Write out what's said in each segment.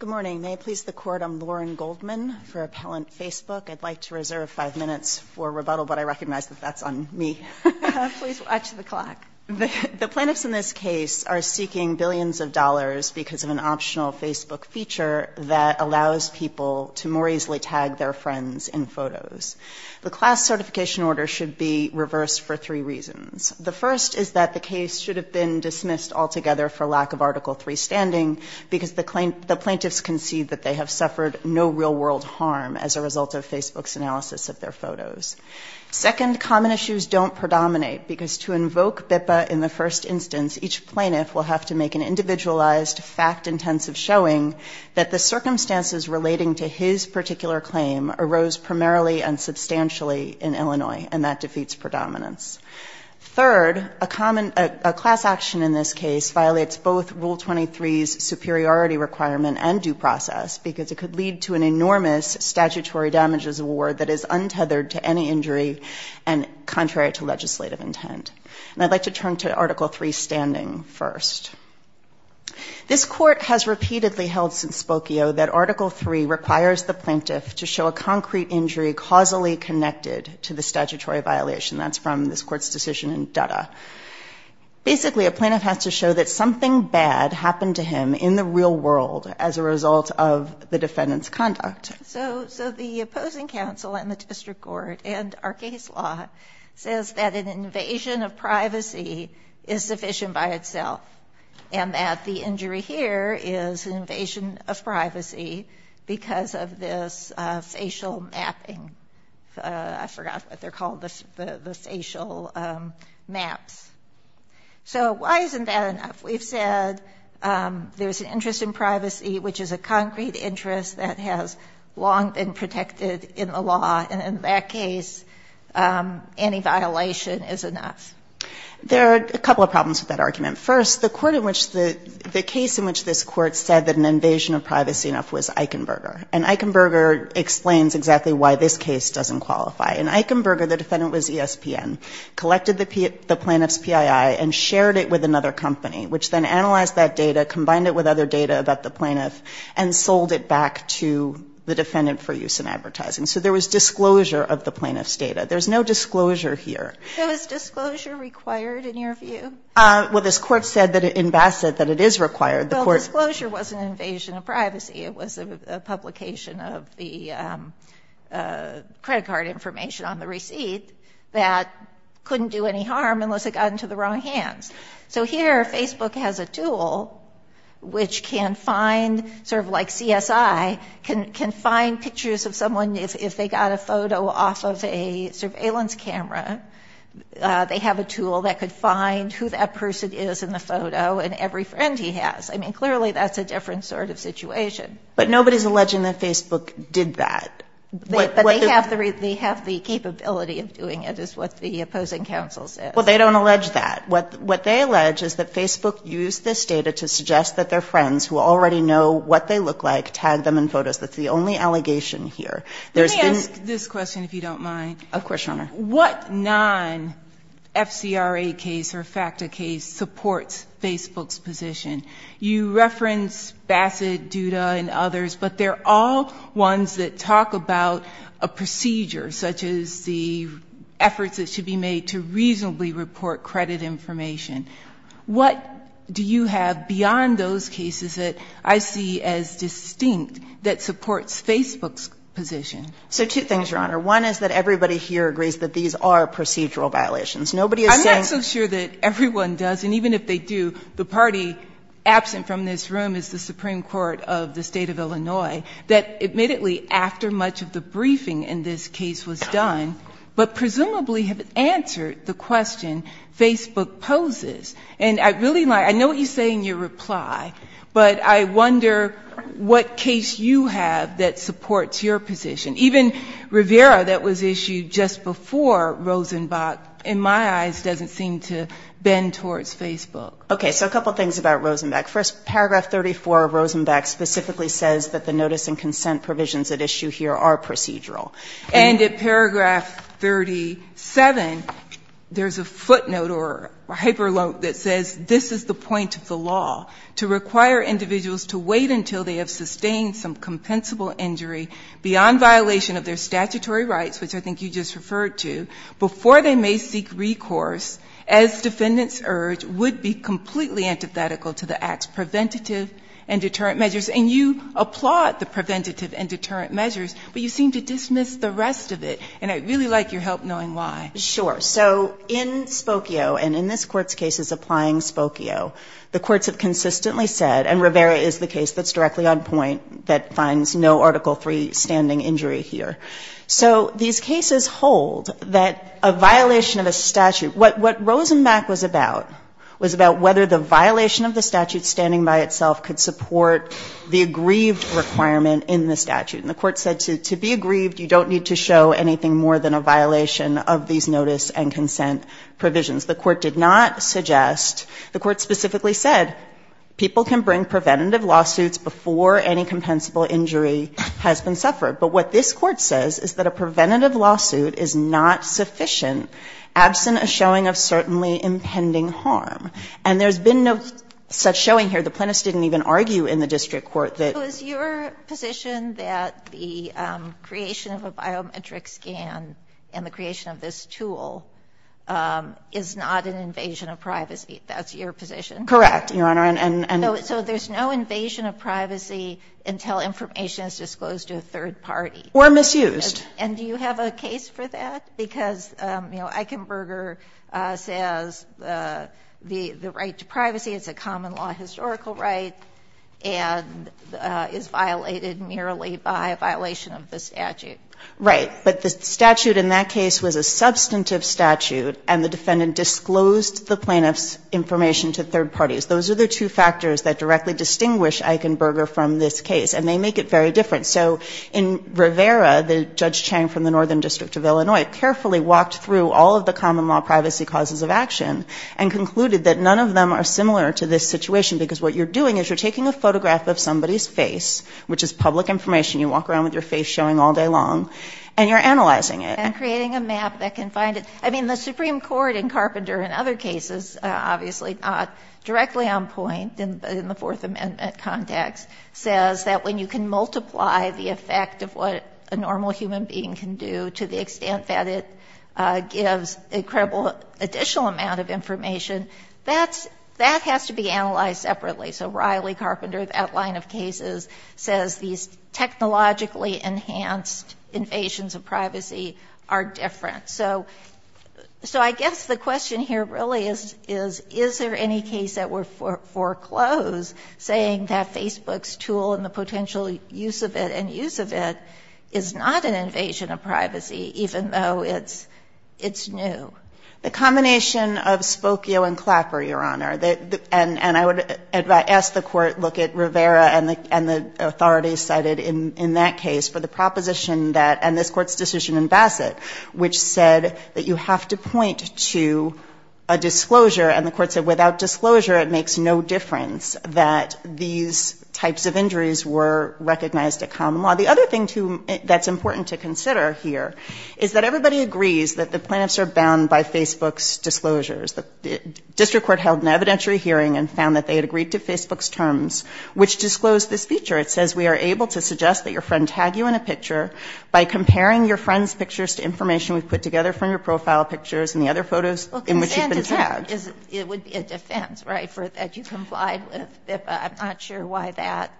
Good morning. May it please the Court, I'm Lauren Goldman for Appellant Facebook. I'd like to reserve five minutes for rebuttal, but I recognize that that's on me. Please watch the clock. The plaintiffs in this case are seeking billions of dollars because of an optional Facebook feature that allows people to more easily tag their friends in photos. The class certification order should be reversed for three reasons. The first is that the case should have been dismissed altogether for lack of Article III standing because the plaintiffs concede that they have suffered no real-world harm as a result of Facebook's analysis of their photos. Second, common issues don't predominate because to invoke BIPA in the first instance, each plaintiff will have to make an individualized, fact-intensive showing that the circumstances relating to his particular claim arose primarily and substantially in Illinois, and that defeats predominance. Third, a class action in this case violates both Rule 23's superiority requirement and due process because it could lead to an enormous statutory damages award that is untethered to any injury and contrary to legislative intent. And I'd like to turn to Article III standing first. This Court has repeatedly held since Spokio that Article III requires the plaintiff to show a concrete injury causally connected to the statutory violation. That's from this Court's decision in Dutta. Basically, a plaintiff has to show that something bad happened to him in the real world as a result of the defendant's conduct. So the opposing counsel and the district court and our case law says that an invasion of privacy is sufficient by itself and that the injury here is an invasion of privacy because of this facial mapping. I forgot what they're called, the facial maps. So why isn't that enough? We've said there's an interest in privacy, which is a concrete interest that has long been protected in the law, and in that case, any violation is enough. There are a couple of problems with that argument. First, the case in which this Court said that an invasion of privacy enough was Eichenberger, and Eichenberger explains exactly why this case doesn't qualify. In Eichenberger, the defendant was ESPN, collected the plaintiff's PII and shared it with another company, which then analyzed that data, combined it with other data about the plaintiff, and sold it back to the defendant for use in advertising. So there was disclosure of the plaintiff's data. There's no disclosure here. So is disclosure required in your view? Well, this Court said in Bassett that it is required. Well, disclosure wasn't an invasion of privacy. It was a publication of the credit card information on the receipt that couldn't do any harm unless it got into the wrong hands. So here, Facebook has a tool which can find, sort of like CSI, can find pictures of someone if they got a photo off of a surveillance camera. They have a tool that could find who that person is in the photo and every friend he has. I mean, clearly that's a different sort of situation. But nobody's alleging that Facebook did that. But they have the capability of doing it, is what the opposing counsel says. Well, they don't allege that. What they allege is that Facebook used this data to suggest that their friends, who already know what they look like, tagged them in photos. That's the only allegation here. Of course, Your Honor. What non-FCRA case or FACTA case supports Facebook's position? You reference Bassett, Duda, and others, but they're all ones that talk about a procedure, such as the efforts that should be made to reasonably report credit information. What do you have beyond those cases that I see as distinct that supports Facebook's position? So two things, Your Honor. One is that everybody here agrees that these are procedural violations. Nobody is saying ---- I'm not so sure that everyone does, and even if they do, the party absent from this room is the Supreme Court of the State of Illinois, that admittedly after much of the briefing in this case was done, but presumably have answered the question Facebook poses. And I really like ñ I know what you say in your reply, but I wonder what case you have that supports your position. Even Rivera that was issued just before Rosenbach, in my eyes, doesn't seem to bend towards Facebook. Okay. So a couple things about Rosenbach. First, paragraph 34 of Rosenbach specifically says that the notice and consent provisions at issue here are procedural. And at paragraph 37, there's a footnote or hyperlope that says this is the point of the law, to require individuals to wait until they have sustained some compensable injury beyond violation of their statutory rights, which I think you just referred to, before they may seek recourse, as defendants urge, would be completely antithetical to the act's preventative and deterrent measures. And you applaud the preventative and deterrent measures, but you seem to dismiss the rest of it. And I'd really like your help knowing why. Sure. So in Spokio, and in this Court's cases applying Spokio, the courts have consistently said, and Rivera is the case that's directly on point, that finds no Article III standing injury here. So these cases hold that a violation of a statute ñ what Rosenbach was about, was about whether the violation of the statute standing by itself could support the aggrieved requirement in the statute. And the Court said to be aggrieved, you don't need to show anything more than a violation of these notice and consent provisions. The Court did not suggest ñ the Court specifically said, people can bring preventative lawsuits before any compensable injury has been suffered. But what this Court says is that a preventative lawsuit is not sufficient absent a showing of certainly impending harm. And there's been no such showing here. The plaintiffs didn't even argue in the district court that ñ Your position that the creation of a biometric scan and the creation of this tool is not an invasion of privacy. That's your position? Correct, Your Honor. And ñ So there's no invasion of privacy until information is disclosed to a third party. Or misused. And do you have a case for that? Because, you know, Eichenberger says the right to privacy is a common law historical right and is violated merely by a violation of the statute. Right. But the statute in that case was a substantive statute and the defendant disclosed the plaintiff's information to third parties. Those are the two factors that directly distinguish Eichenberger from this case. And they make it very different. So in Rivera, the Judge Chang from the Northern District of Illinois, carefully walked through all of the common law privacy causes of action and concluded that none of them are similar to this situation. Because what you're doing is you're taking a photograph of somebody's face, which is public information, you walk around with your face showing all day long, and you're analyzing it. And creating a map that can find it. I mean, the Supreme Court in Carpenter and other cases, obviously, not directly on point in the Fourth Amendment context, says that when you can multiply the effect of what a normal human being can do to the extent that it gives an incredible additional amount of information, that has to be analyzed separately. So Riley Carpenter, that line of cases, says these technologically enhanced invasions of privacy are different. So I guess the question here really is, is there any case that would foreclose saying that Facebook's tool and the potential use of it and use of it is not an invasion of privacy, even though it's new? The combination of Spokio and Clapper, Your Honor, and I would ask the Court to look at Rivera and the authorities cited in that case for the proposition that, and this Court's decision in Bassett, which said that you have to point to a disclosure. And the Court said without disclosure, it makes no difference that these types of injuries were recognized at common law. The other thing that's important to consider here is that everybody agrees that the plaintiffs are bound by Facebook's disclosures. The district court held an evidentiary hearing and found that they had agreed to Facebook's terms, which disclosed this feature. It says we are able to suggest that your friend tag you in a picture by comparing your friend's pictures to information we've put together from your profile pictures and the other photos in which you've been tagged. Well, consent is a defense, right, that you complied with. I'm not sure why that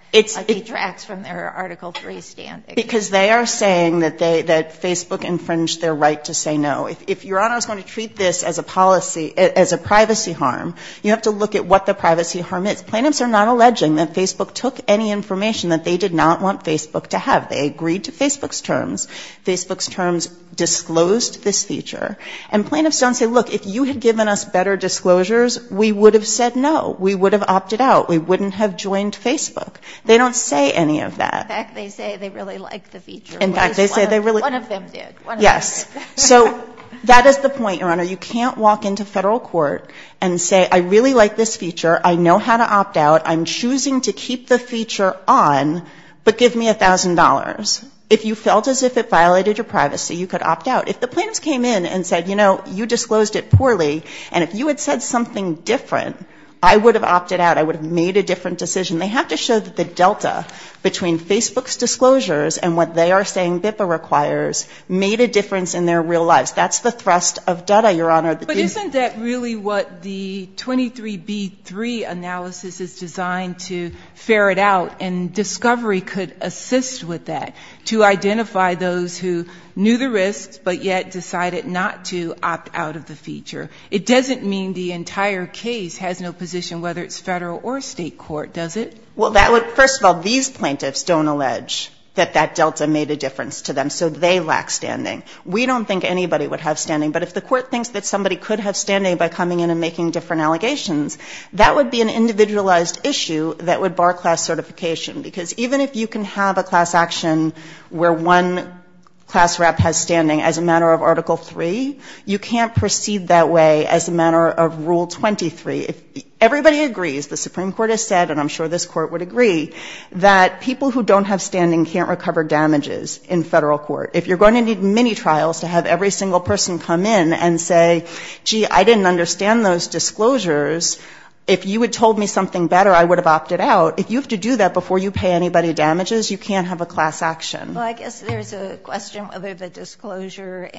detracts from their Article III standing. Because they are saying that Facebook infringed their right to say no. If Your Honor is going to treat this as a policy, as a privacy harm, you have to look at what the privacy harm is. Plaintiffs are not alleging that Facebook took any information that they did not want Facebook to have. They agreed to Facebook's terms. Facebook's terms disclosed this feature. And plaintiffs don't say, look, if you had given us better disclosures, we would have said no. We would have opted out. We wouldn't have joined Facebook. They don't say any of that. In fact, they say they really like the feature. In fact, they say they really like the feature. One of them did. Yes. So that is the point, Your Honor. You can't walk into Federal court and say, I really like this feature. I know how to opt out. I'm choosing to keep the feature on, but give me $1,000. If you felt as if it violated your privacy, you could opt out. If the plaintiffs came in and said, you know, you disclosed it poorly, and if you had said something different, I would have opted out. I would have made a different decision. They have to show that the delta between Facebook's disclosures and what they are saying BIPA requires made a difference in their real lives. That's the thrust of data, Your Honor. But isn't that really what the 23B3 analysis is designed to ferret out? And discovery could assist with that, to identify those who knew the risks but yet decided not to opt out of the feature. It doesn't mean the entire case has no position, whether it's Federal or State court, does it? Well, first of all, these plaintiffs don't allege that that delta made a difference to them, so they lack standing. We don't think anybody would have standing. But if the court thinks that somebody could have standing by coming in and making different allegations, that would be an individualized issue that would bar class certification. Because even if you can have a class action where one class rep has standing as a matter of Article III, you can't proceed that way as a matter of Rule 23. Everybody agrees, the Supreme Court has said, and I'm sure this Court would agree, that people who don't have standing can't recover damages in Federal court. If you're going to need mini-trials to have every single person come in and say, gee, I didn't understand those disclosures, if you had told me something better, I would have opted out. If you have to do that before you pay anybody damages, you can't have a class action. Well, I guess there's a question whether the disclosure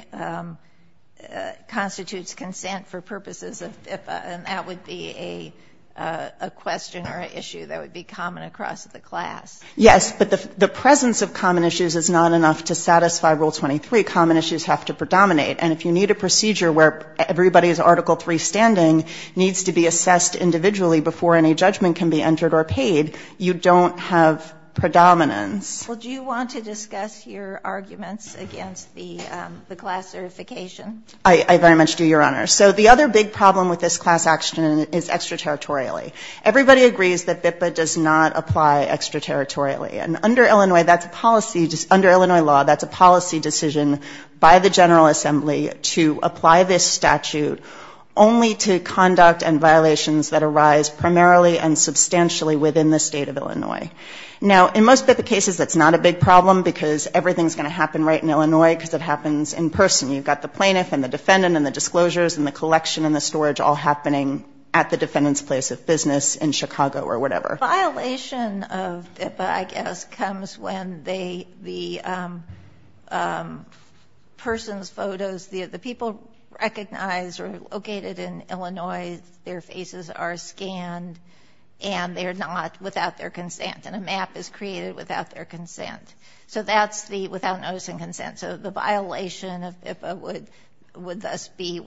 constitutes consent for purposes of FIFA, and that would be a question or an issue that would be common across the class. Yes, but the presence of common issues is not enough to satisfy Rule 23. Common issues have to predominate. And if you need a procedure where everybody's Article III standing needs to be assessed individually before any judgment can be entered or paid, you don't have predominance. Well, do you want to discuss your arguments against the class certification? I very much do, Your Honor. So the other big problem with this class action is extraterritorially. Everybody agrees that FIFA does not apply extraterritorially. And under Illinois law, that's a policy decision by the General Assembly to apply this statute only to conduct and violations that arise primarily and substantially within the State of Illinois. Now, in most FIFA cases, that's not a big problem because everything's going to happen right in Illinois because it happens in person. You've got the plaintiff and the defendant and the disclosures and the collection and the storage all happening at the defendant's place of business in Chicago or whatever. The violation of FIFA, I guess, comes when the person's photos, the people recognized or located in Illinois, their faces are scanned and they're not without their consent and a map is created without their consent. So that's the without notice and consent. So the violation of FIFA would thus be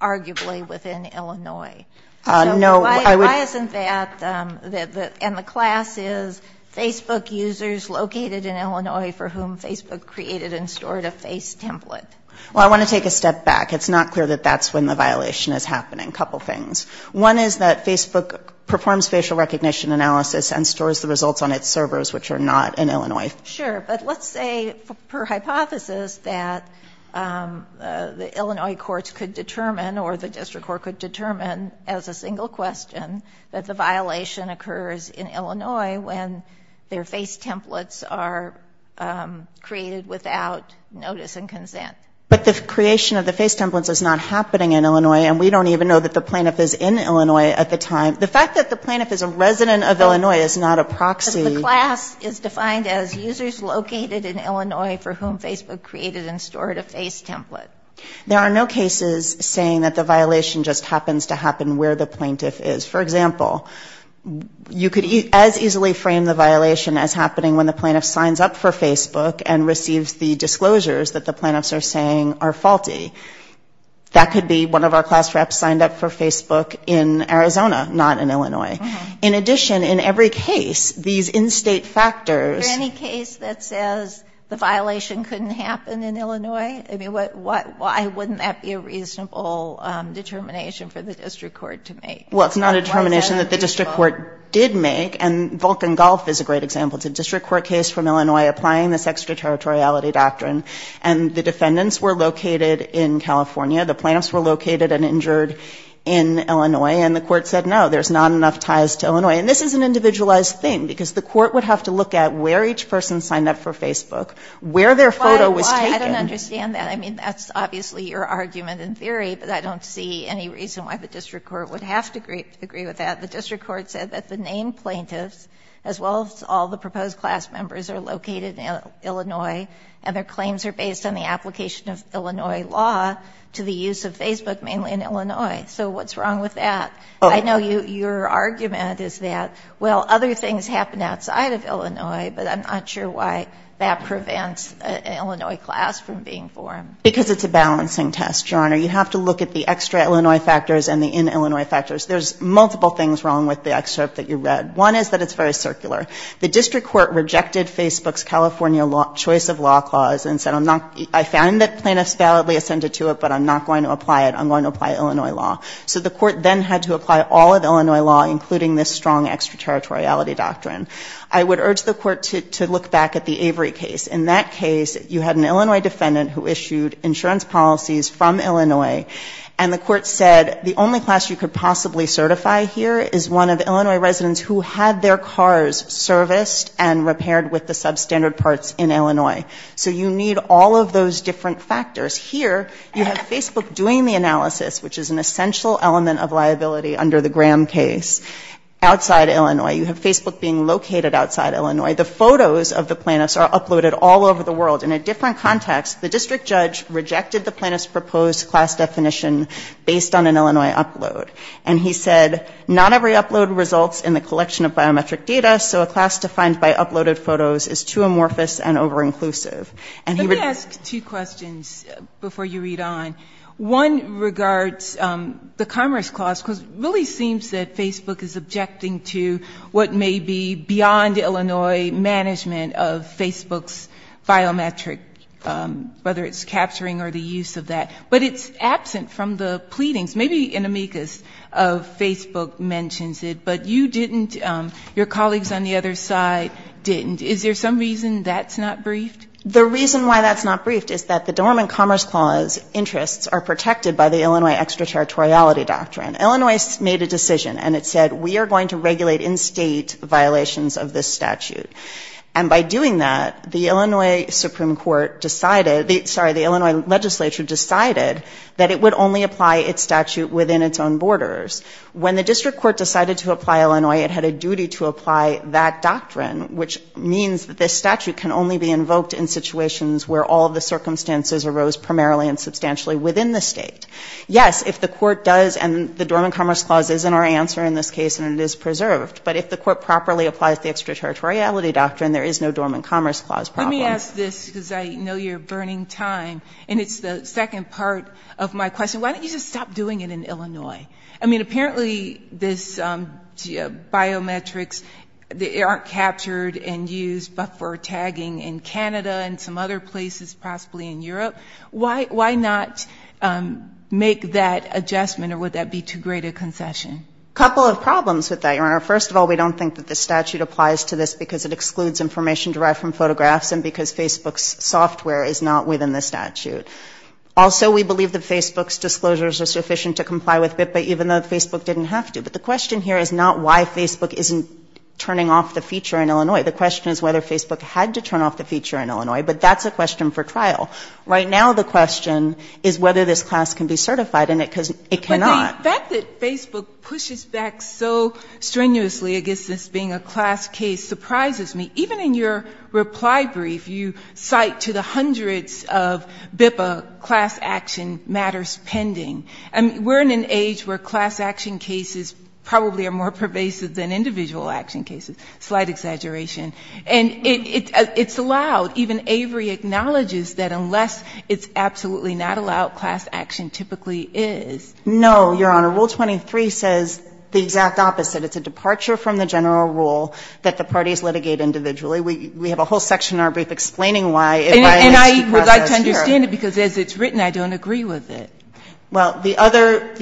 arguably within Illinois. So why isn't that? And the class is Facebook users located in Illinois for whom Facebook created and stored a face template. Well, I want to take a step back. It's not clear that that's when the violation is happening. A couple things. One is that Facebook performs facial recognition analysis and stores the results on its servers, which are not in Illinois. Sure. But let's say per hypothesis that the Illinois courts could determine or the district court could determine as a single question that the violation occurs in Illinois when their face templates are created without notice and consent. But the creation of the face templates is not happening in Illinois and we don't even know that the plaintiff is in Illinois at the time. The fact that the plaintiff is a resident of Illinois is not a proxy. Because the class is defined as users located in Illinois for whom Facebook created and stored a face template. There are no cases saying that the violation just happens to happen where the plaintiff is. For example, you could as easily frame the violation as happening when the plaintiff signs up for Facebook and receives the disclosures that the plaintiffs are saying are faulty. That could be one of our class reps signed up for Facebook in Arizona, not in Illinois. In addition, in every case, these in-state factors. Is there any case that says the violation couldn't happen in Illinois? I mean, why wouldn't that be a reasonable determination for the district court to make? Well, it's not a determination that the district court did make. And Vulcan Gulf is a great example. It's a district court case from Illinois applying this extraterritoriality doctrine. And the defendants were located in California. The plaintiffs were located and injured in Illinois. And the court said, no, there's not enough ties to Illinois. And this is an individualized thing, because the court would have to look at where each person signed up for Facebook, where their photo was taken. Why? I don't understand that. I mean, that's obviously your argument in theory, but I don't see any reason why the district court would have to agree with that. The district court said that the named plaintiffs, as well as all the proposed class members, are located in Illinois, and their claims are based on the application of Illinois law to the use of Facebook, mainly in Illinois. So what's wrong with that? I know your argument is that, well, other things happen outside of Illinois, but I'm not sure why that prevents an Illinois class from being formed. Because it's a balancing test, Your Honor. You have to look at the extra-Illinois factors and the in-Illinois factors. There's multiple things wrong with the excerpt that you read. One is that it's very circular. The district court rejected Facebook's California choice of law clause and said, I found that plaintiffs validly assented to it, but I'm not going to apply it. So the court then had to apply all of Illinois law, including this strong extra-territoriality doctrine. I would urge the court to look back at the Avery case. In that case, you had an Illinois defendant who issued insurance policies from Illinois, and the court said the only class you could possibly certify here is one of Illinois residents who had their cars serviced and repaired with the substandard parts in Illinois. So you need all of those different factors. Here, you have Facebook doing the analysis, which is an essential element of liability under the Graham case, outside Illinois. You have Facebook being located outside Illinois. The photos of the plaintiffs are uploaded all over the world. In a different context, the district judge rejected the plaintiff's proposed class definition based on an Illinois upload, and he said, not every upload results in the collection of biometric data, so a class defined by uploaded photos is too amorphous and over-inclusive. Let me ask two questions before you read on. One regards the Commerce Clause, because it really seems that Facebook is objecting to what may be beyond Illinois management of Facebook's biometric, whether it's capturing or the use of that, but it's absent from the pleadings. Maybe an amicus of Facebook mentions it, but you didn't, your colleagues on the other side didn't. Is there some reason that's not briefed? The reason why that's not briefed is that the Dormant Commerce Clause interests are protected by the Illinois extraterritoriality doctrine. Illinois made a decision, and it said, we are going to regulate in-state violations of this statute. And by doing that, the Illinois Supreme Court decided, sorry, the Illinois legislature decided that it would only apply its statute within its own borders. When the district court decided to apply Illinois, it had a duty to apply that doctrine, which means that this statute can only be invoked in situations where all the circumstances arose primarily and substantially within the state. Yes, if the court does, and the Dormant Commerce Clause is in our answer in this case, and it is preserved. But if the court properly applies the extraterritoriality doctrine, there is no Dormant Commerce Clause problem. Let me ask this, because I know you're burning time, and it's the second part of my question. Why don't you just stop doing it in Illinois? I mean, apparently, this biometrics, they aren't captured and used for tagging in Canada and some other places, possibly in Europe. Why not make that adjustment, or would that be too great a concession? A couple of problems with that, Your Honor. First of all, we don't think that the statute applies to this because it excludes information derived from photographs and because Facebook's software is not within the statute. Also, we believe that Facebook's disclosures are sufficient to comply with BIPPA, even though Facebook didn't have to. But the question here is not why Facebook isn't turning off the feature in Illinois. The question is whether Facebook had to turn off the feature in Illinois, but that's a question for trial. Right now, the question is whether this class can be certified, and it cannot. But the fact that Facebook pushes back so strenuously against this being a class case surprises me. Even in your reply brief, you cite to the hundreds of BIPPA class action matters pending. I mean, we're in an age where class action cases probably are more pervasive than individual action cases. Slight exaggeration. And it's allowed. Even Avery acknowledges that unless it's absolutely not allowed, class action typically is. No, Your Honor. Rule 23 says the exact opposite. It's a departure from the general rule that the parties litigate individually. We have a whole section in our brief explaining why. And I would like to understand it, because as it's written, I don't agree with it. Well, the other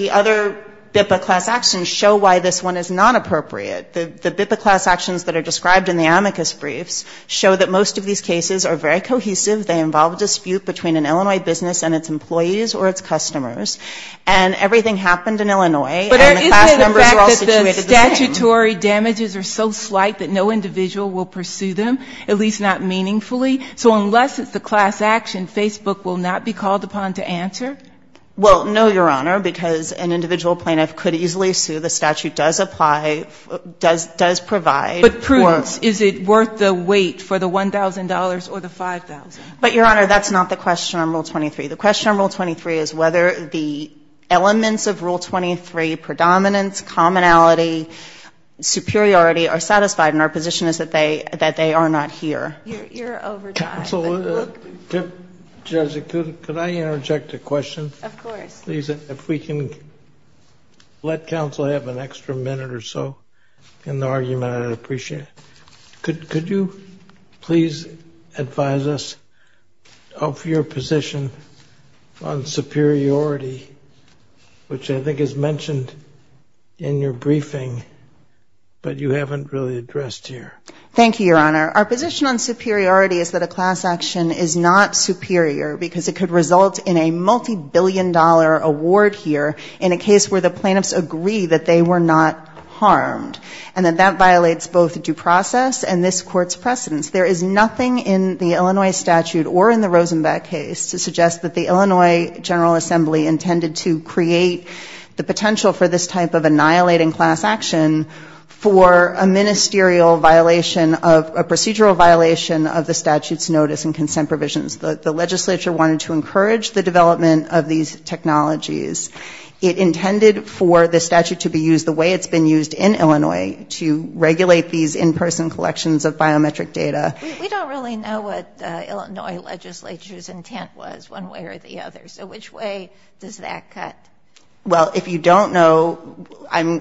BIPPA class actions show why this one is not appropriate. The BIPPA class actions that are described in the amicus briefs show that most of these cases are very cohesive. They involve a dispute between an Illinois business and its employees or its customers. And everything happened in Illinois, and the class numbers are all situated the same. But isn't it a fact that the statutory damages are so slight that no individual will pursue them, at least not meaningfully? So unless it's a class action, Facebook will not be called upon to answer? Well, no, Your Honor, because an individual plaintiff could easily sue. The statute does apply, does provide. But, prudence, is it worth the wait for the $1,000 or the $5,000? But, Your Honor, that's not the question on Rule 23. The question on Rule 23 is whether the elements of Rule 23, predominance, commonality, superiority, are satisfied. And our position is that they are not here. Your overtime. Counsel, Judge, could I interject a question? Of course. Please, if we can let counsel have an extra minute or so in the argument, I'd appreciate it. Could you please advise us of your position on superiority, which I think is mentioned in your briefing, but you haven't really addressed here? Thank you, Your Honor. Our position on superiority is that a class action is not superior because it could result in a multibillion-dollar award here in a case where the plaintiffs agree that they were not harmed, and that that violates both due process and this Court's precedence. There is nothing in the Illinois statute or in the Rosenbach case to suggest that the Illinois General Assembly intended to create the potential for this type of annihilating class action for a procedural violation of the statute's notice and consent provisions. The legislature wanted to encourage the development of these technologies. It intended for the statute to be used the way it's been used in Illinois, to regulate these in-person collections of biometric data. We don't really know what Illinois legislature's intent was, one way or the other, so which way does that cut? Well, if you don't know,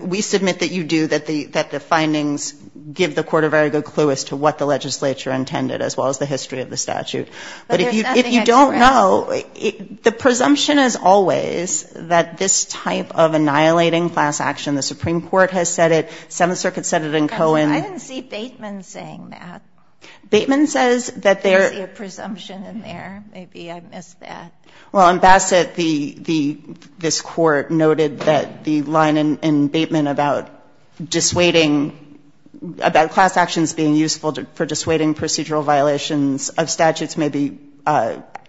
we submit that you do, that the findings give the Court a very good clue as to what the legislature intended, as well as the history of the statute. But if you don't know, the presumption is always that this type of annihilating class action, the Supreme Court has said it, Seventh Circuit said it in Cohen. I didn't see Bateman saying that. Bateman says that there... I didn't see a presumption in there. Maybe I missed that. Well, in Bassett, this Court noted that the line in Bateman about dissuading, about class actions being useful for dissuading procedural violations of statutes may be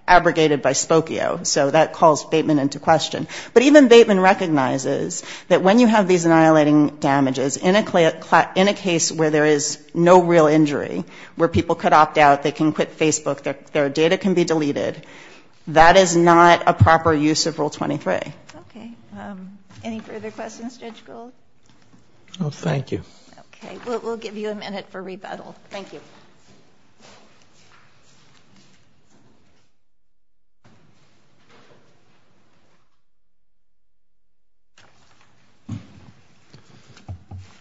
abrogated by Spokio. So that calls Bateman into question. But even Bateman recognizes that when you have these annihilating damages, in a case where there is no real injury, where people could opt out, they can quit Facebook, their data can be deleted, that is not a proper use of Rule 23. Okay. Any further questions, Judge Gould? No, thank you. Okay. We'll give you a minute for rebuttal. Thank you.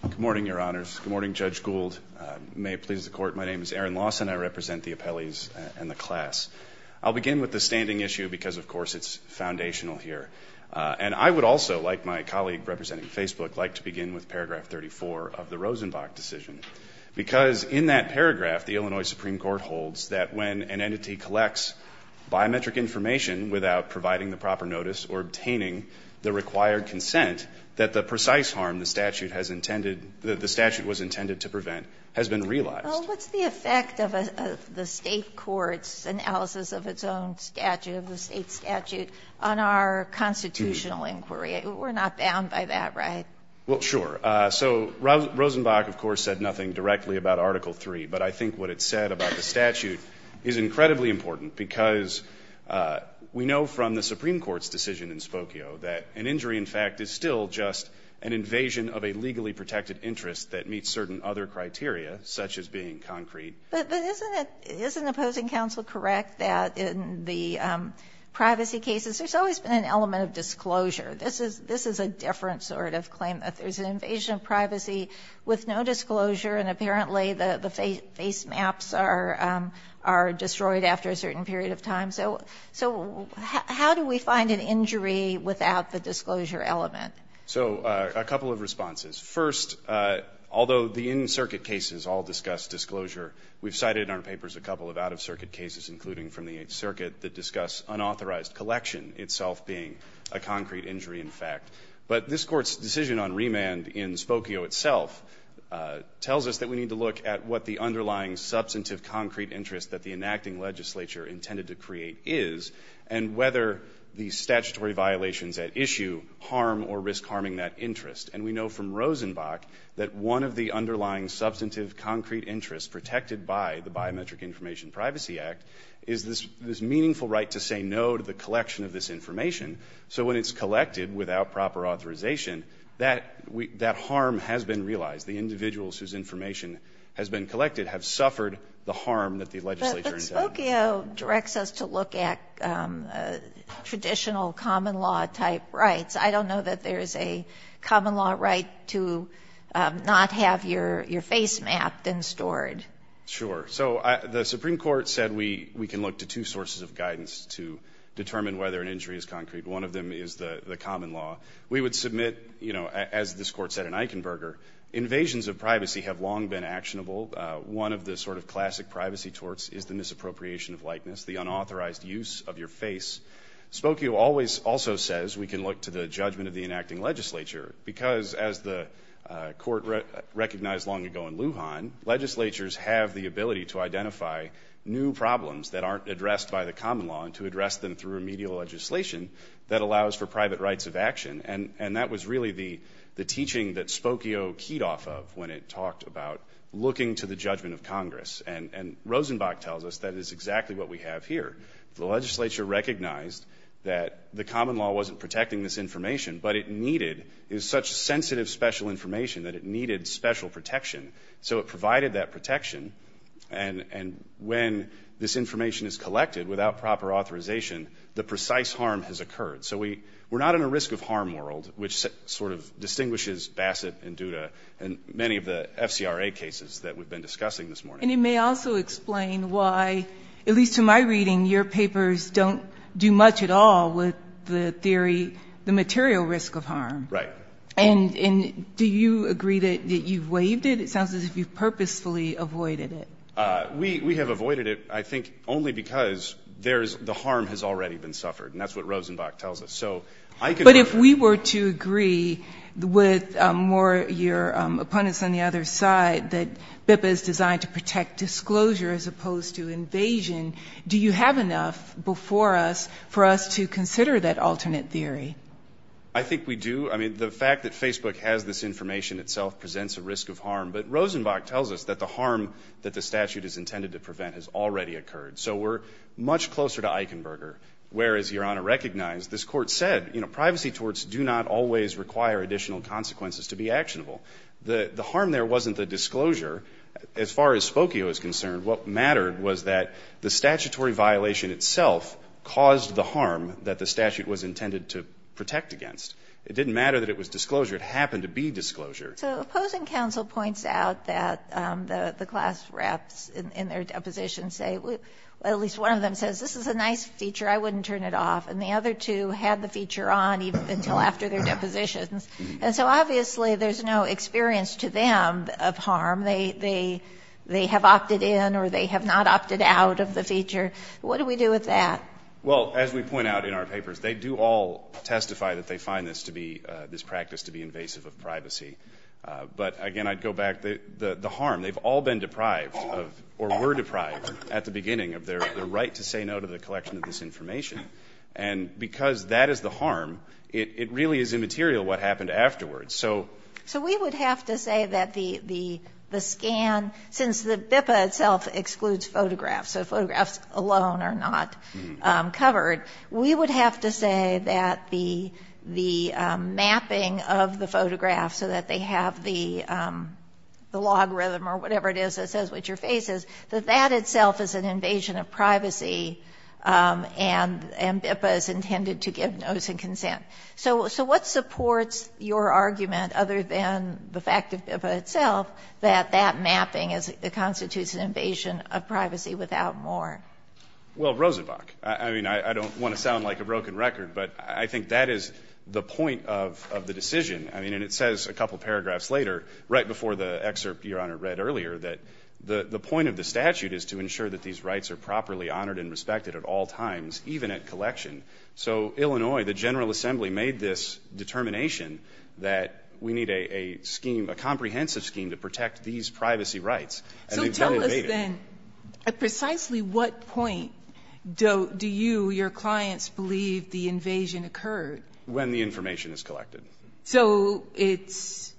Good morning, Your Honors. Good morning, Judge Gould. May it please the Court, my name is Aaron Lawson. I represent the appellees and the class. I'll begin with the standing issue because, of course, it's foundational here. And I would also, like my colleague representing Facebook, like to begin with paragraph 34 of the Rosenbach decision. Because in that paragraph, the Illinois Supreme Court holds that when an entity collects biometric information without providing the proper notice or obtaining the required consent, that the precise harm the statute was intended to prevent has been realized. Well, what's the effect of the state court's analysis of its own statute, of the state statute, on our constitutional inquiry? We're not bound by that, right? Well, sure. So Rosenbach, of course, said nothing directly about Article III. But I think what it said about the statute is incredibly important because we know from the Supreme Court's decision in Spokio that an injury, in fact, is still just an invasion of a legally protected interest that meets certain other criteria, such as being concrete. But isn't it opposing counsel correct that in the privacy cases, there's always been an element of disclosure? This is a different sort of claim, that there's an invasion of privacy with no disclosure and apparently the face maps are destroyed after a certain period of time. So how do we find an injury without the disclosure element? So, a couple of responses. First, although the in-circuit cases all discuss disclosure, we've cited in our papers a couple of out-of-circuit cases, including from the 8th Circuit, that discuss unauthorized collection itself being a concrete injury, in fact. But this Court's decision on remand in Spokio itself tells us that we need to look at what the underlying substantive concrete interest that the enacting legislature intended to create is and whether the statutory violations at issue harm or risk harming that interest. And we know from Rosenbach that one of the underlying substantive concrete interests protected by the Biometric Information Privacy Act is this meaningful right to say no to the collection of this information. So when it's collected without proper authorization, that harm has been realized. The individuals whose information has been collected have suffered the harm that the legislature intended. Spokio directs us to look at traditional common law type rights. I don't know that there is a common law right to not have your face mapped and stored. Sure. So the Supreme Court said we can look to two sources of guidance to determine whether an injury is concrete. One of them is the common law. We would submit, as this Court said in Eichenberger, invasions of privacy have long been actionable. One of the sort of classic privacy torts is the misappropriation of likeness, the unauthorized use of your face. Spokio also says we can look to the judgment of the enacting legislature because as the Court recognized long ago in Lujan, legislatures have the ability to identify new problems that aren't addressed by the common law and to address them through remedial legislation that allows for private rights of action. And that was really the teaching that Spokio keyed off of when it talked about looking to the judgment of Congress. And Rosenbach tells us that is exactly what we have here. The legislature recognized that the common law wasn't protecting this information, but it needed such sensitive special information that it needed special protection. So it provided that protection, and when this information is collected without proper authorization, the precise harm has occurred. So we're not in a risk of harm world, which sort of distinguishes Bassett and Duda and many of the FCRA cases that we've been discussing this morning. And it may also explain why, at least to my reading, your papers don't do much at all with the theory, the material risk of harm. Right. And do you agree that you've waived it? It sounds as if you've purposefully avoided it. We have avoided it, I think, only because the harm has already been suffered, and that's what Rosenbach tells us. But if we were to agree with your opponents on the other side that BIPA is designed to protect disclosure as opposed to invasion, do you have enough before us for us to consider that alternate theory? I think we do. I mean, the fact that Facebook has this information itself presents a risk of harm, but Rosenbach tells us that the harm that the statute is intended to prevent has already occurred. So we're much closer to Eichenberger, whereas your Honor recognized this court said, you know, privacy torts do not always require additional consequences to be actionable. The harm there wasn't the disclosure. As far as Spokio is concerned, what mattered was that the statutory violation itself caused the harm that the statute was intended to protect against. It didn't matter that it was disclosure. It happened to be disclosure. So opposing counsel points out that the class reps in their deposition say, at least one of them says, this is a nice feature, I wouldn't turn it off. And the other two had the feature on even until after their depositions. And so obviously there's no experience to them of harm. They have opted in or they have not opted out of the feature. What do we do with that? Well, as we point out in our papers, they do all testify that they find this practice to be invasive of privacy. But, again, I'd go back. The harm, they've all been deprived of or were deprived at the beginning of their right to say no to the collection of this information. And because that is the harm, it really is immaterial what happened afterwards. So we would have to say that the scan, since the BIPA itself excludes photographs so photographs alone are not covered, we would have to say that the mapping of the photograph so that they have the logarithm or whatever it is that says what your face is, that that itself is an invasion of privacy and BIPA is intended to give notice and consent. So what supports your argument, other than the fact of BIPA itself, that that mapping constitutes an invasion of privacy without more? Well, Rosenbach. I mean, I don't want to sound like a broken record, but I think that is the point of the decision. I mean, and it says a couple paragraphs later, right before the excerpt Your Honor read earlier, that the point of the statute is to ensure that these rights are properly honored and respected at all times, even at collection. So Illinois, the General Assembly made this determination that we need a comprehensive scheme to protect these privacy rights. So tell us then, at precisely what point do you, your clients, believe the invasion occurred? When the information is collected. So it's,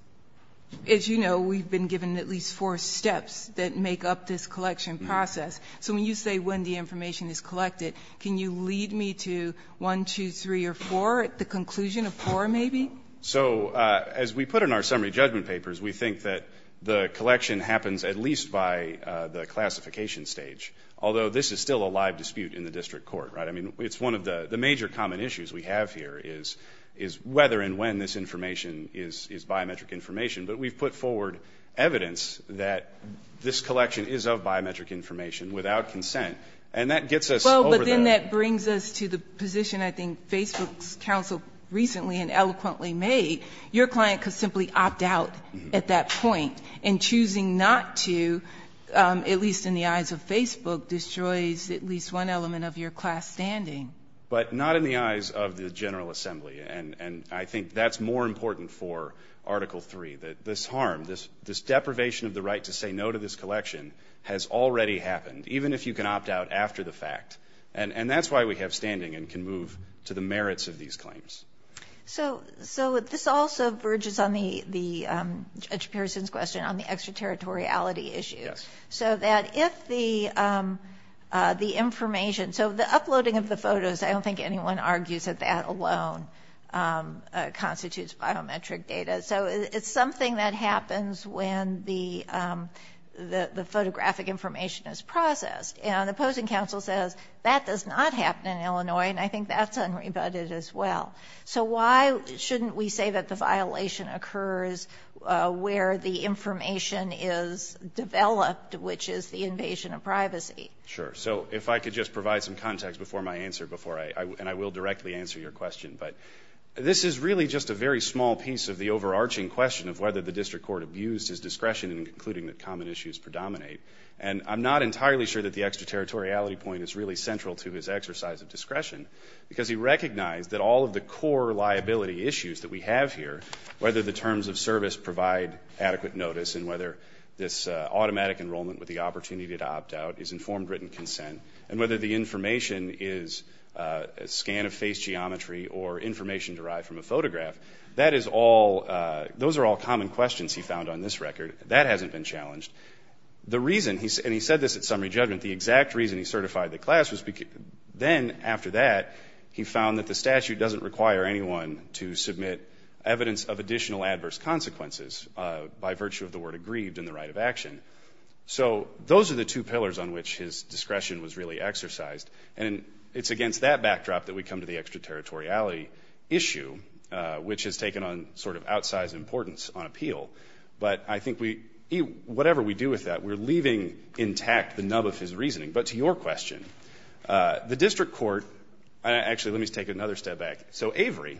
as you know, we've been given at least four steps that make up this collection process. So when you say when the information is collected, can you lead me to one, two, three, or four at the conclusion of four maybe? So as we put in our summary judgment papers, we think that the collection happens at least by the classification stage, although this is still a live dispute in the district court, right? I mean, it's one of the major common issues we have here is whether and when this information is biometric information. But we've put forward evidence that this collection is of biometric information without consent. And that gets us over that. Well, but then that brings us to the position, I think, Facebook's counsel recently and eloquently made. Your client could simply opt out at that point in choosing not to, which at least in the eyes of Facebook destroys at least one element of your class standing. But not in the eyes of the General Assembly. And I think that's more important for Article III, that this harm, this deprivation of the right to say no to this collection has already happened, even if you can opt out after the fact. And that's why we have standing and can move to the merits of these claims. So this also verges on Judge Pearson's question on the extraterritoriality issue. Yes. So that if the information, so the uploading of the photos, I don't think anyone argues that that alone constitutes biometric data. So it's something that happens when the photographic information is processed. Right. And I think that's unrebutted as well. So why shouldn't we say that the violation occurs where the information is developed, which is the invasion of privacy? Sure. So if I could just provide some context before my answer, and I will directly answer your question, but this is really just a very small piece of the overarching question of whether the district court abused his discretion in concluding that common issues predominate. And I'm not entirely sure that the extraterritoriality point is really central to his exercise of discretion because he recognized that all of the core liability issues that we have here, whether the terms of service provide adequate notice and whether this automatic enrollment with the opportunity to opt out is informed written consent, and whether the information is a scan of face geometry or information derived from a photograph, that is all, those are all common questions he found on this record. That hasn't been challenged. The reason, and he said this at summary judgment, the exact reason he certified the class was then, after that, he found that the statute doesn't require anyone to submit evidence of additional adverse consequences by virtue of the word aggrieved in the right of action. So those are the two pillars on which his discretion was really exercised. And it's against that backdrop that we come to the extraterritoriality issue, but I think we, whatever we do with that, we're leaving intact the nub of his reasoning. But to your question, the district court, actually let me take another step back. So Avery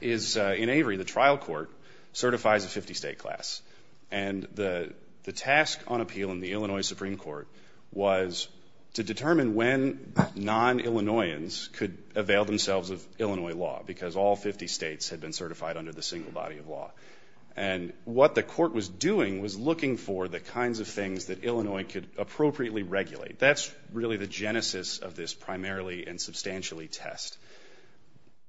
is, in Avery, the trial court certifies a 50-state class. And the task on appeal in the Illinois Supreme Court was to determine when non-Illinoisans could avail themselves of Illinois law because all 50 states had been certified under the single body of law. And what the court was doing was looking for the kinds of things that Illinois could appropriately regulate. That's really the genesis of this primarily and substantially test.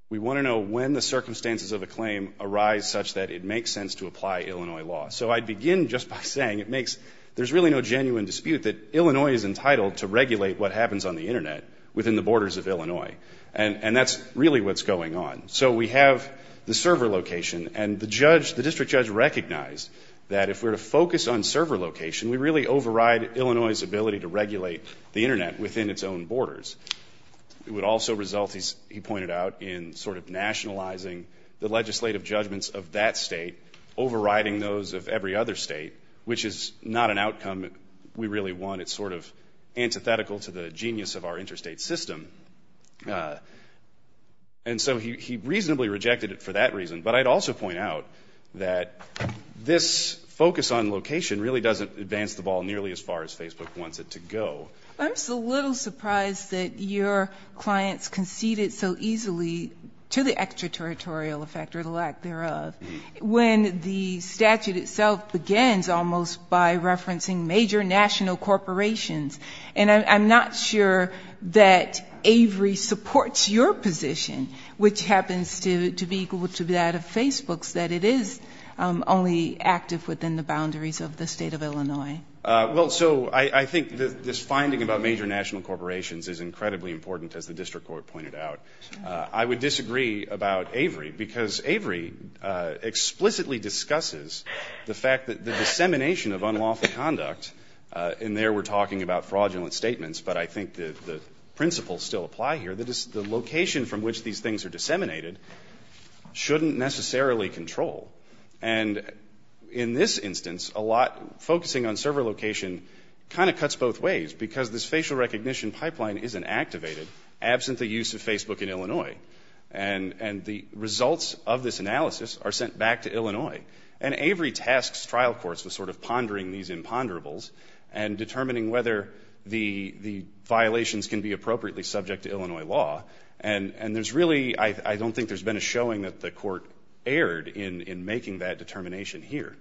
We want to know when the circumstances of a claim arise such that it makes sense to apply Illinois law. So I'd begin just by saying it makes, there's really no genuine dispute that Illinois is entitled to regulate what happens on the Internet within the borders of Illinois. And that's really what's going on. So we have the server location. And the judge, the district judge recognized that if we're to focus on server location, we really override Illinois' ability to regulate the Internet within its own borders. It would also result, he pointed out, in sort of nationalizing the legislative judgments of that state, overriding those of every other state, which is not an outcome we really want. It's sort of antithetical to the genius of our interstate system. And so he reasonably rejected it for that reason. But I'd also point out that this focus on location really doesn't advance the ball nearly as far as Facebook wants it to go. I'm just a little surprised that your clients conceded so easily to the extraterritorial effect or the lack thereof when the statute itself begins almost by referencing major national corporations. And I'm not sure that Avery supports your position, which happens to be equal to that of Facebook's, that it is only active within the boundaries of the state of Illinois. Well, so I think this finding about major national corporations is incredibly important, as the district court pointed out. I would disagree about Avery because Avery explicitly discusses the fact that the dissemination of unlawful conduct, and there we're talking about fraudulent statements, but I think the principles still apply here, that the location from which these things are disseminated shouldn't necessarily control. And in this instance, a lot focusing on server location kind of cuts both ways because this facial recognition pipeline isn't activated absent the use of Facebook in Illinois. And the results of this analysis are sent back to Illinois. And Avery tasks trial courts with sort of pondering these imponderables and determining whether the violations can be appropriately subject to Illinois law. And there's really, I don't think there's been a showing that the court erred in making that determination here.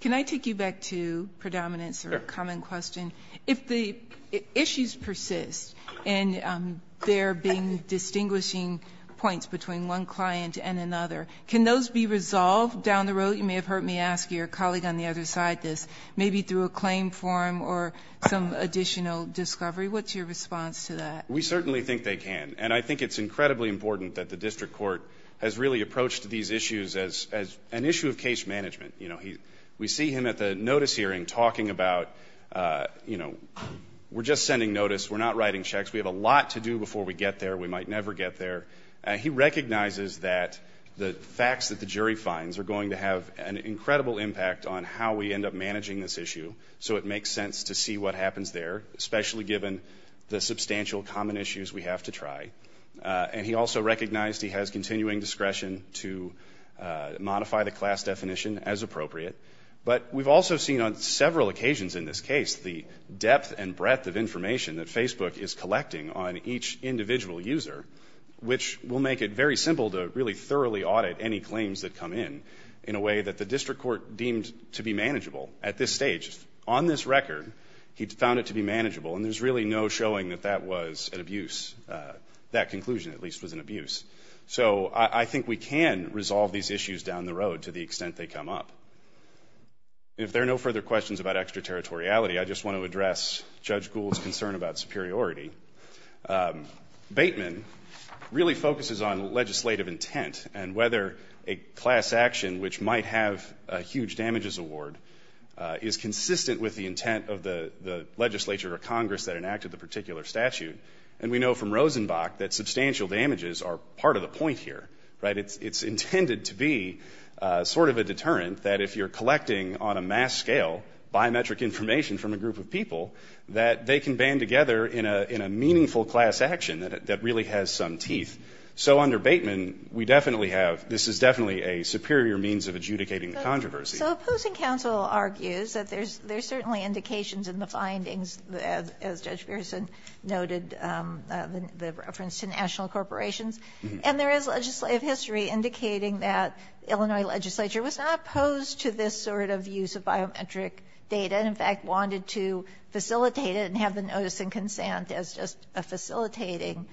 Can I take you back to predominance or a common question? If the issues persist and there being distinguishing points between one client and another, can those be resolved down the road? You may have heard me ask your colleague on the other side this, maybe through a claim form or some additional discovery. What's your response to that? We certainly think they can. And I think it's incredibly important that the district court has really approached these issues as an issue of case management. You know, we see him at the notice hearing talking about, you know, we're just sending notice. We're not writing checks. We have a lot to do before we get there. We might never get there. He recognizes that the facts that the jury finds are going to have an incredible impact on how we end up managing this issue, so it makes sense to see what happens there, especially given the substantial common issues we have to try. And he also recognized he has continuing discretion to modify the class definition as appropriate. But we've also seen on several occasions in this case the depth and breadth of information that Facebook is collecting on each individual user, which will make it very simple to really thoroughly audit any claims that come in, in a way that the district court deemed to be manageable at this stage. On this record, he found it to be manageable, and there's really no showing that that was an abuse, that conclusion at least was an abuse. So I think we can resolve these issues down the road to the extent they come up. If there are no further questions about extraterritoriality, I just want to address Judge Gould's concern about superiority. Bateman really focuses on legislative intent and whether a class action which might have a huge damages award is consistent with the intent of the legislature or Congress that enacted the particular statute. And we know from Rosenbach that substantial damages are part of the point here, right? That it's intended to be sort of a deterrent that if you're collecting on a mass scale biometric information from a group of people, that they can band together in a meaningful class action that really has some teeth. So under Bateman, we definitely have – this is definitely a superior means of adjudicating the controversy. So opposing counsel argues that there's certainly indications in the findings, as Judge Pearson noted, the reference to national corporations. And there is legislative history indicating that Illinois legislature was not opposed to this sort of use of biometric data and in fact wanted to facilitate it and have the notice and consent as just a facilitating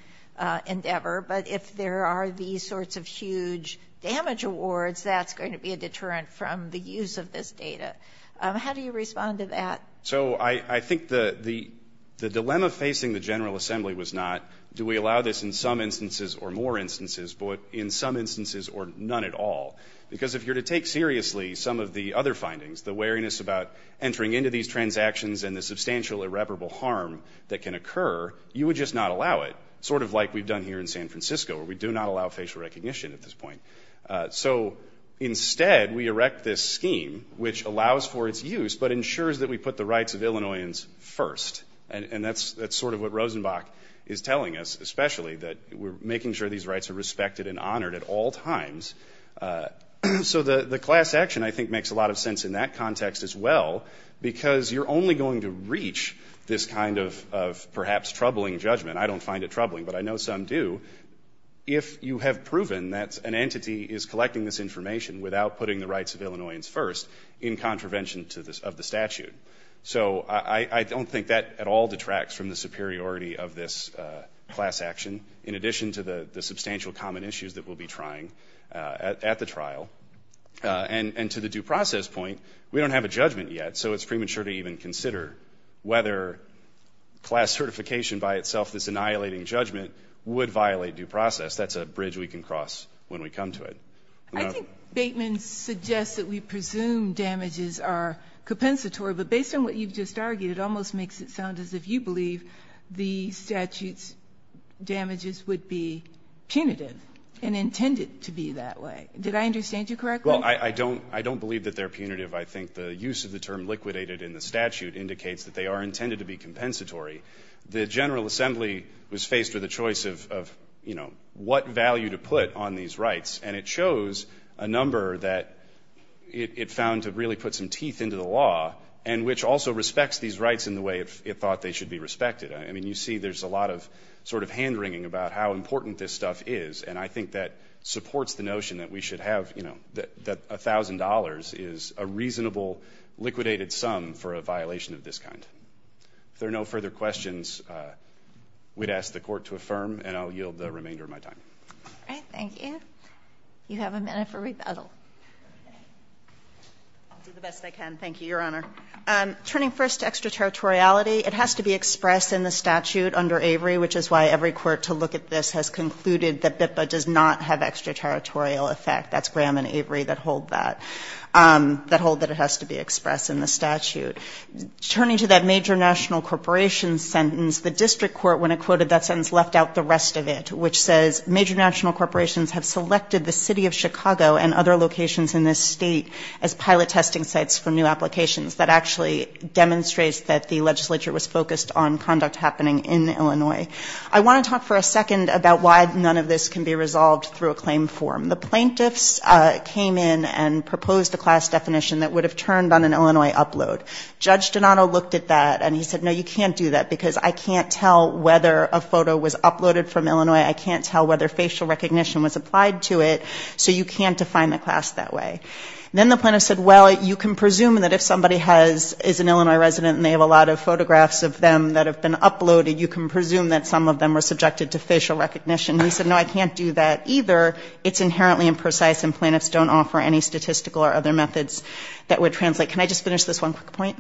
endeavor. But if there are these sorts of huge damage awards, that's going to be a deterrent from the use of this data. How do you respond to that? So I think the dilemma facing the General Assembly was not do we allow this in some instances or more instances, but in some instances or none at all? Because if you're to take seriously some of the other findings, the wariness about entering into these transactions and the substantial irreparable harm that can occur, you would just not allow it, sort of like we've done here in San Francisco where we do not allow facial recognition at this point. So instead, we erect this scheme which allows for its use but ensures that we put the rights of Illinoisans first. And that's sort of what Rosenbach is telling us especially, that we're making sure these rights are respected and honored at all times. So the class action I think makes a lot of sense in that context as well because you're only going to reach this kind of perhaps troubling judgment. I don't find it troubling, but I know some do, if you have proven that an entity is collecting this information without putting the rights of Illinoisans first in contravention of the statute. So I don't think that at all detracts from the superiority of this class action in addition to the substantial common issues that we'll be trying at the trial. And to the due process point, we don't have a judgment yet, so it's premature to even consider whether class certification by itself, this annihilating judgment, would violate due process. That's a bridge we can cross when we come to it. I think Bateman suggests that we presume damages are compensatory, but based on what you've just argued, it almost makes it sound as if you believe the statute's damages would be punitive and intended to be that way. Did I understand you correctly? Well, I don't believe that they're punitive. I think the use of the term liquidated in the statute indicates that they are intended to be compensatory. The General Assembly was faced with a choice of what value to put on these rights, and it chose a number that it found to really put some teeth into the law and which also respects these rights in the way it thought they should be respected. I mean, you see there's a lot of sort of hand-wringing about how important this stuff is, and I think that supports the notion that we should have, you know, that $1,000 is a reasonable liquidated sum for a violation of this kind. If there are no further questions, we'd ask the Court to affirm, and I'll yield the remainder of my time. All right. Thank you. You have a minute for rebuttal. I'll do the best I can. Thank you, Your Honor. Turning first to extraterritoriality, it has to be expressed in the statute under Avery, which is why every court to look at this has concluded that BIPPA does not have extraterritorial effect. That's Graham and Avery that hold that. That hold that it has to be expressed in the statute. Turning to that major national corporation sentence, the district court, when it quoted that sentence, left out the rest of it, which says major national corporations have selected the city of Chicago and other locations in this state as pilot testing sites for new applications. That actually demonstrates that the legislature was focused on conduct happening in Illinois. I want to talk for a second about why none of this can be resolved through a claim form. The plaintiffs came in and proposed a class definition that would have turned on an Illinois upload. Judge Donato looked at that, and he said, no, you can't do that, because I can't tell whether a photo was uploaded from Illinois. I can't tell whether facial recognition was applied to it. So you can't define the class that way. Then the plaintiff said, well, you can presume that if somebody is an Illinois resident and they have a lot of photographs of them that have been uploaded, you can presume that some of them were subjected to facial recognition. He said, no, I can't do that either. It's inherently imprecise, and plaintiffs don't offer any statistical or other methods that would translate. Can I just finish this one quick point?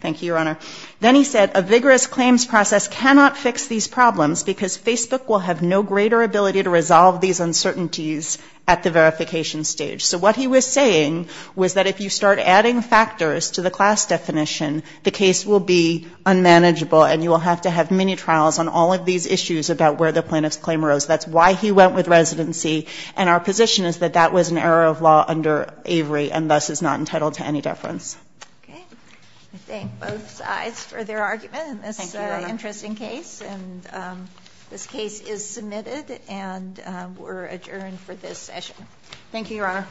Thank you, Your Honor. Then he said a vigorous claims process cannot fix these problems because Facebook will have no greater ability to resolve these uncertainties at the verification stage. So what he was saying was that if you start adding factors to the class definition, the case will be unmanageable, and you will have to have many trials on all of these issues about where the plaintiff's claim arose. That's why he went with residency, and our position is that that was an error of law under Avery, and thus is not entitled to any deference. Okay. I thank both sides for their argument in this interesting case, and this case is submitted and we're adjourned for this session. Thank you, Your Honor.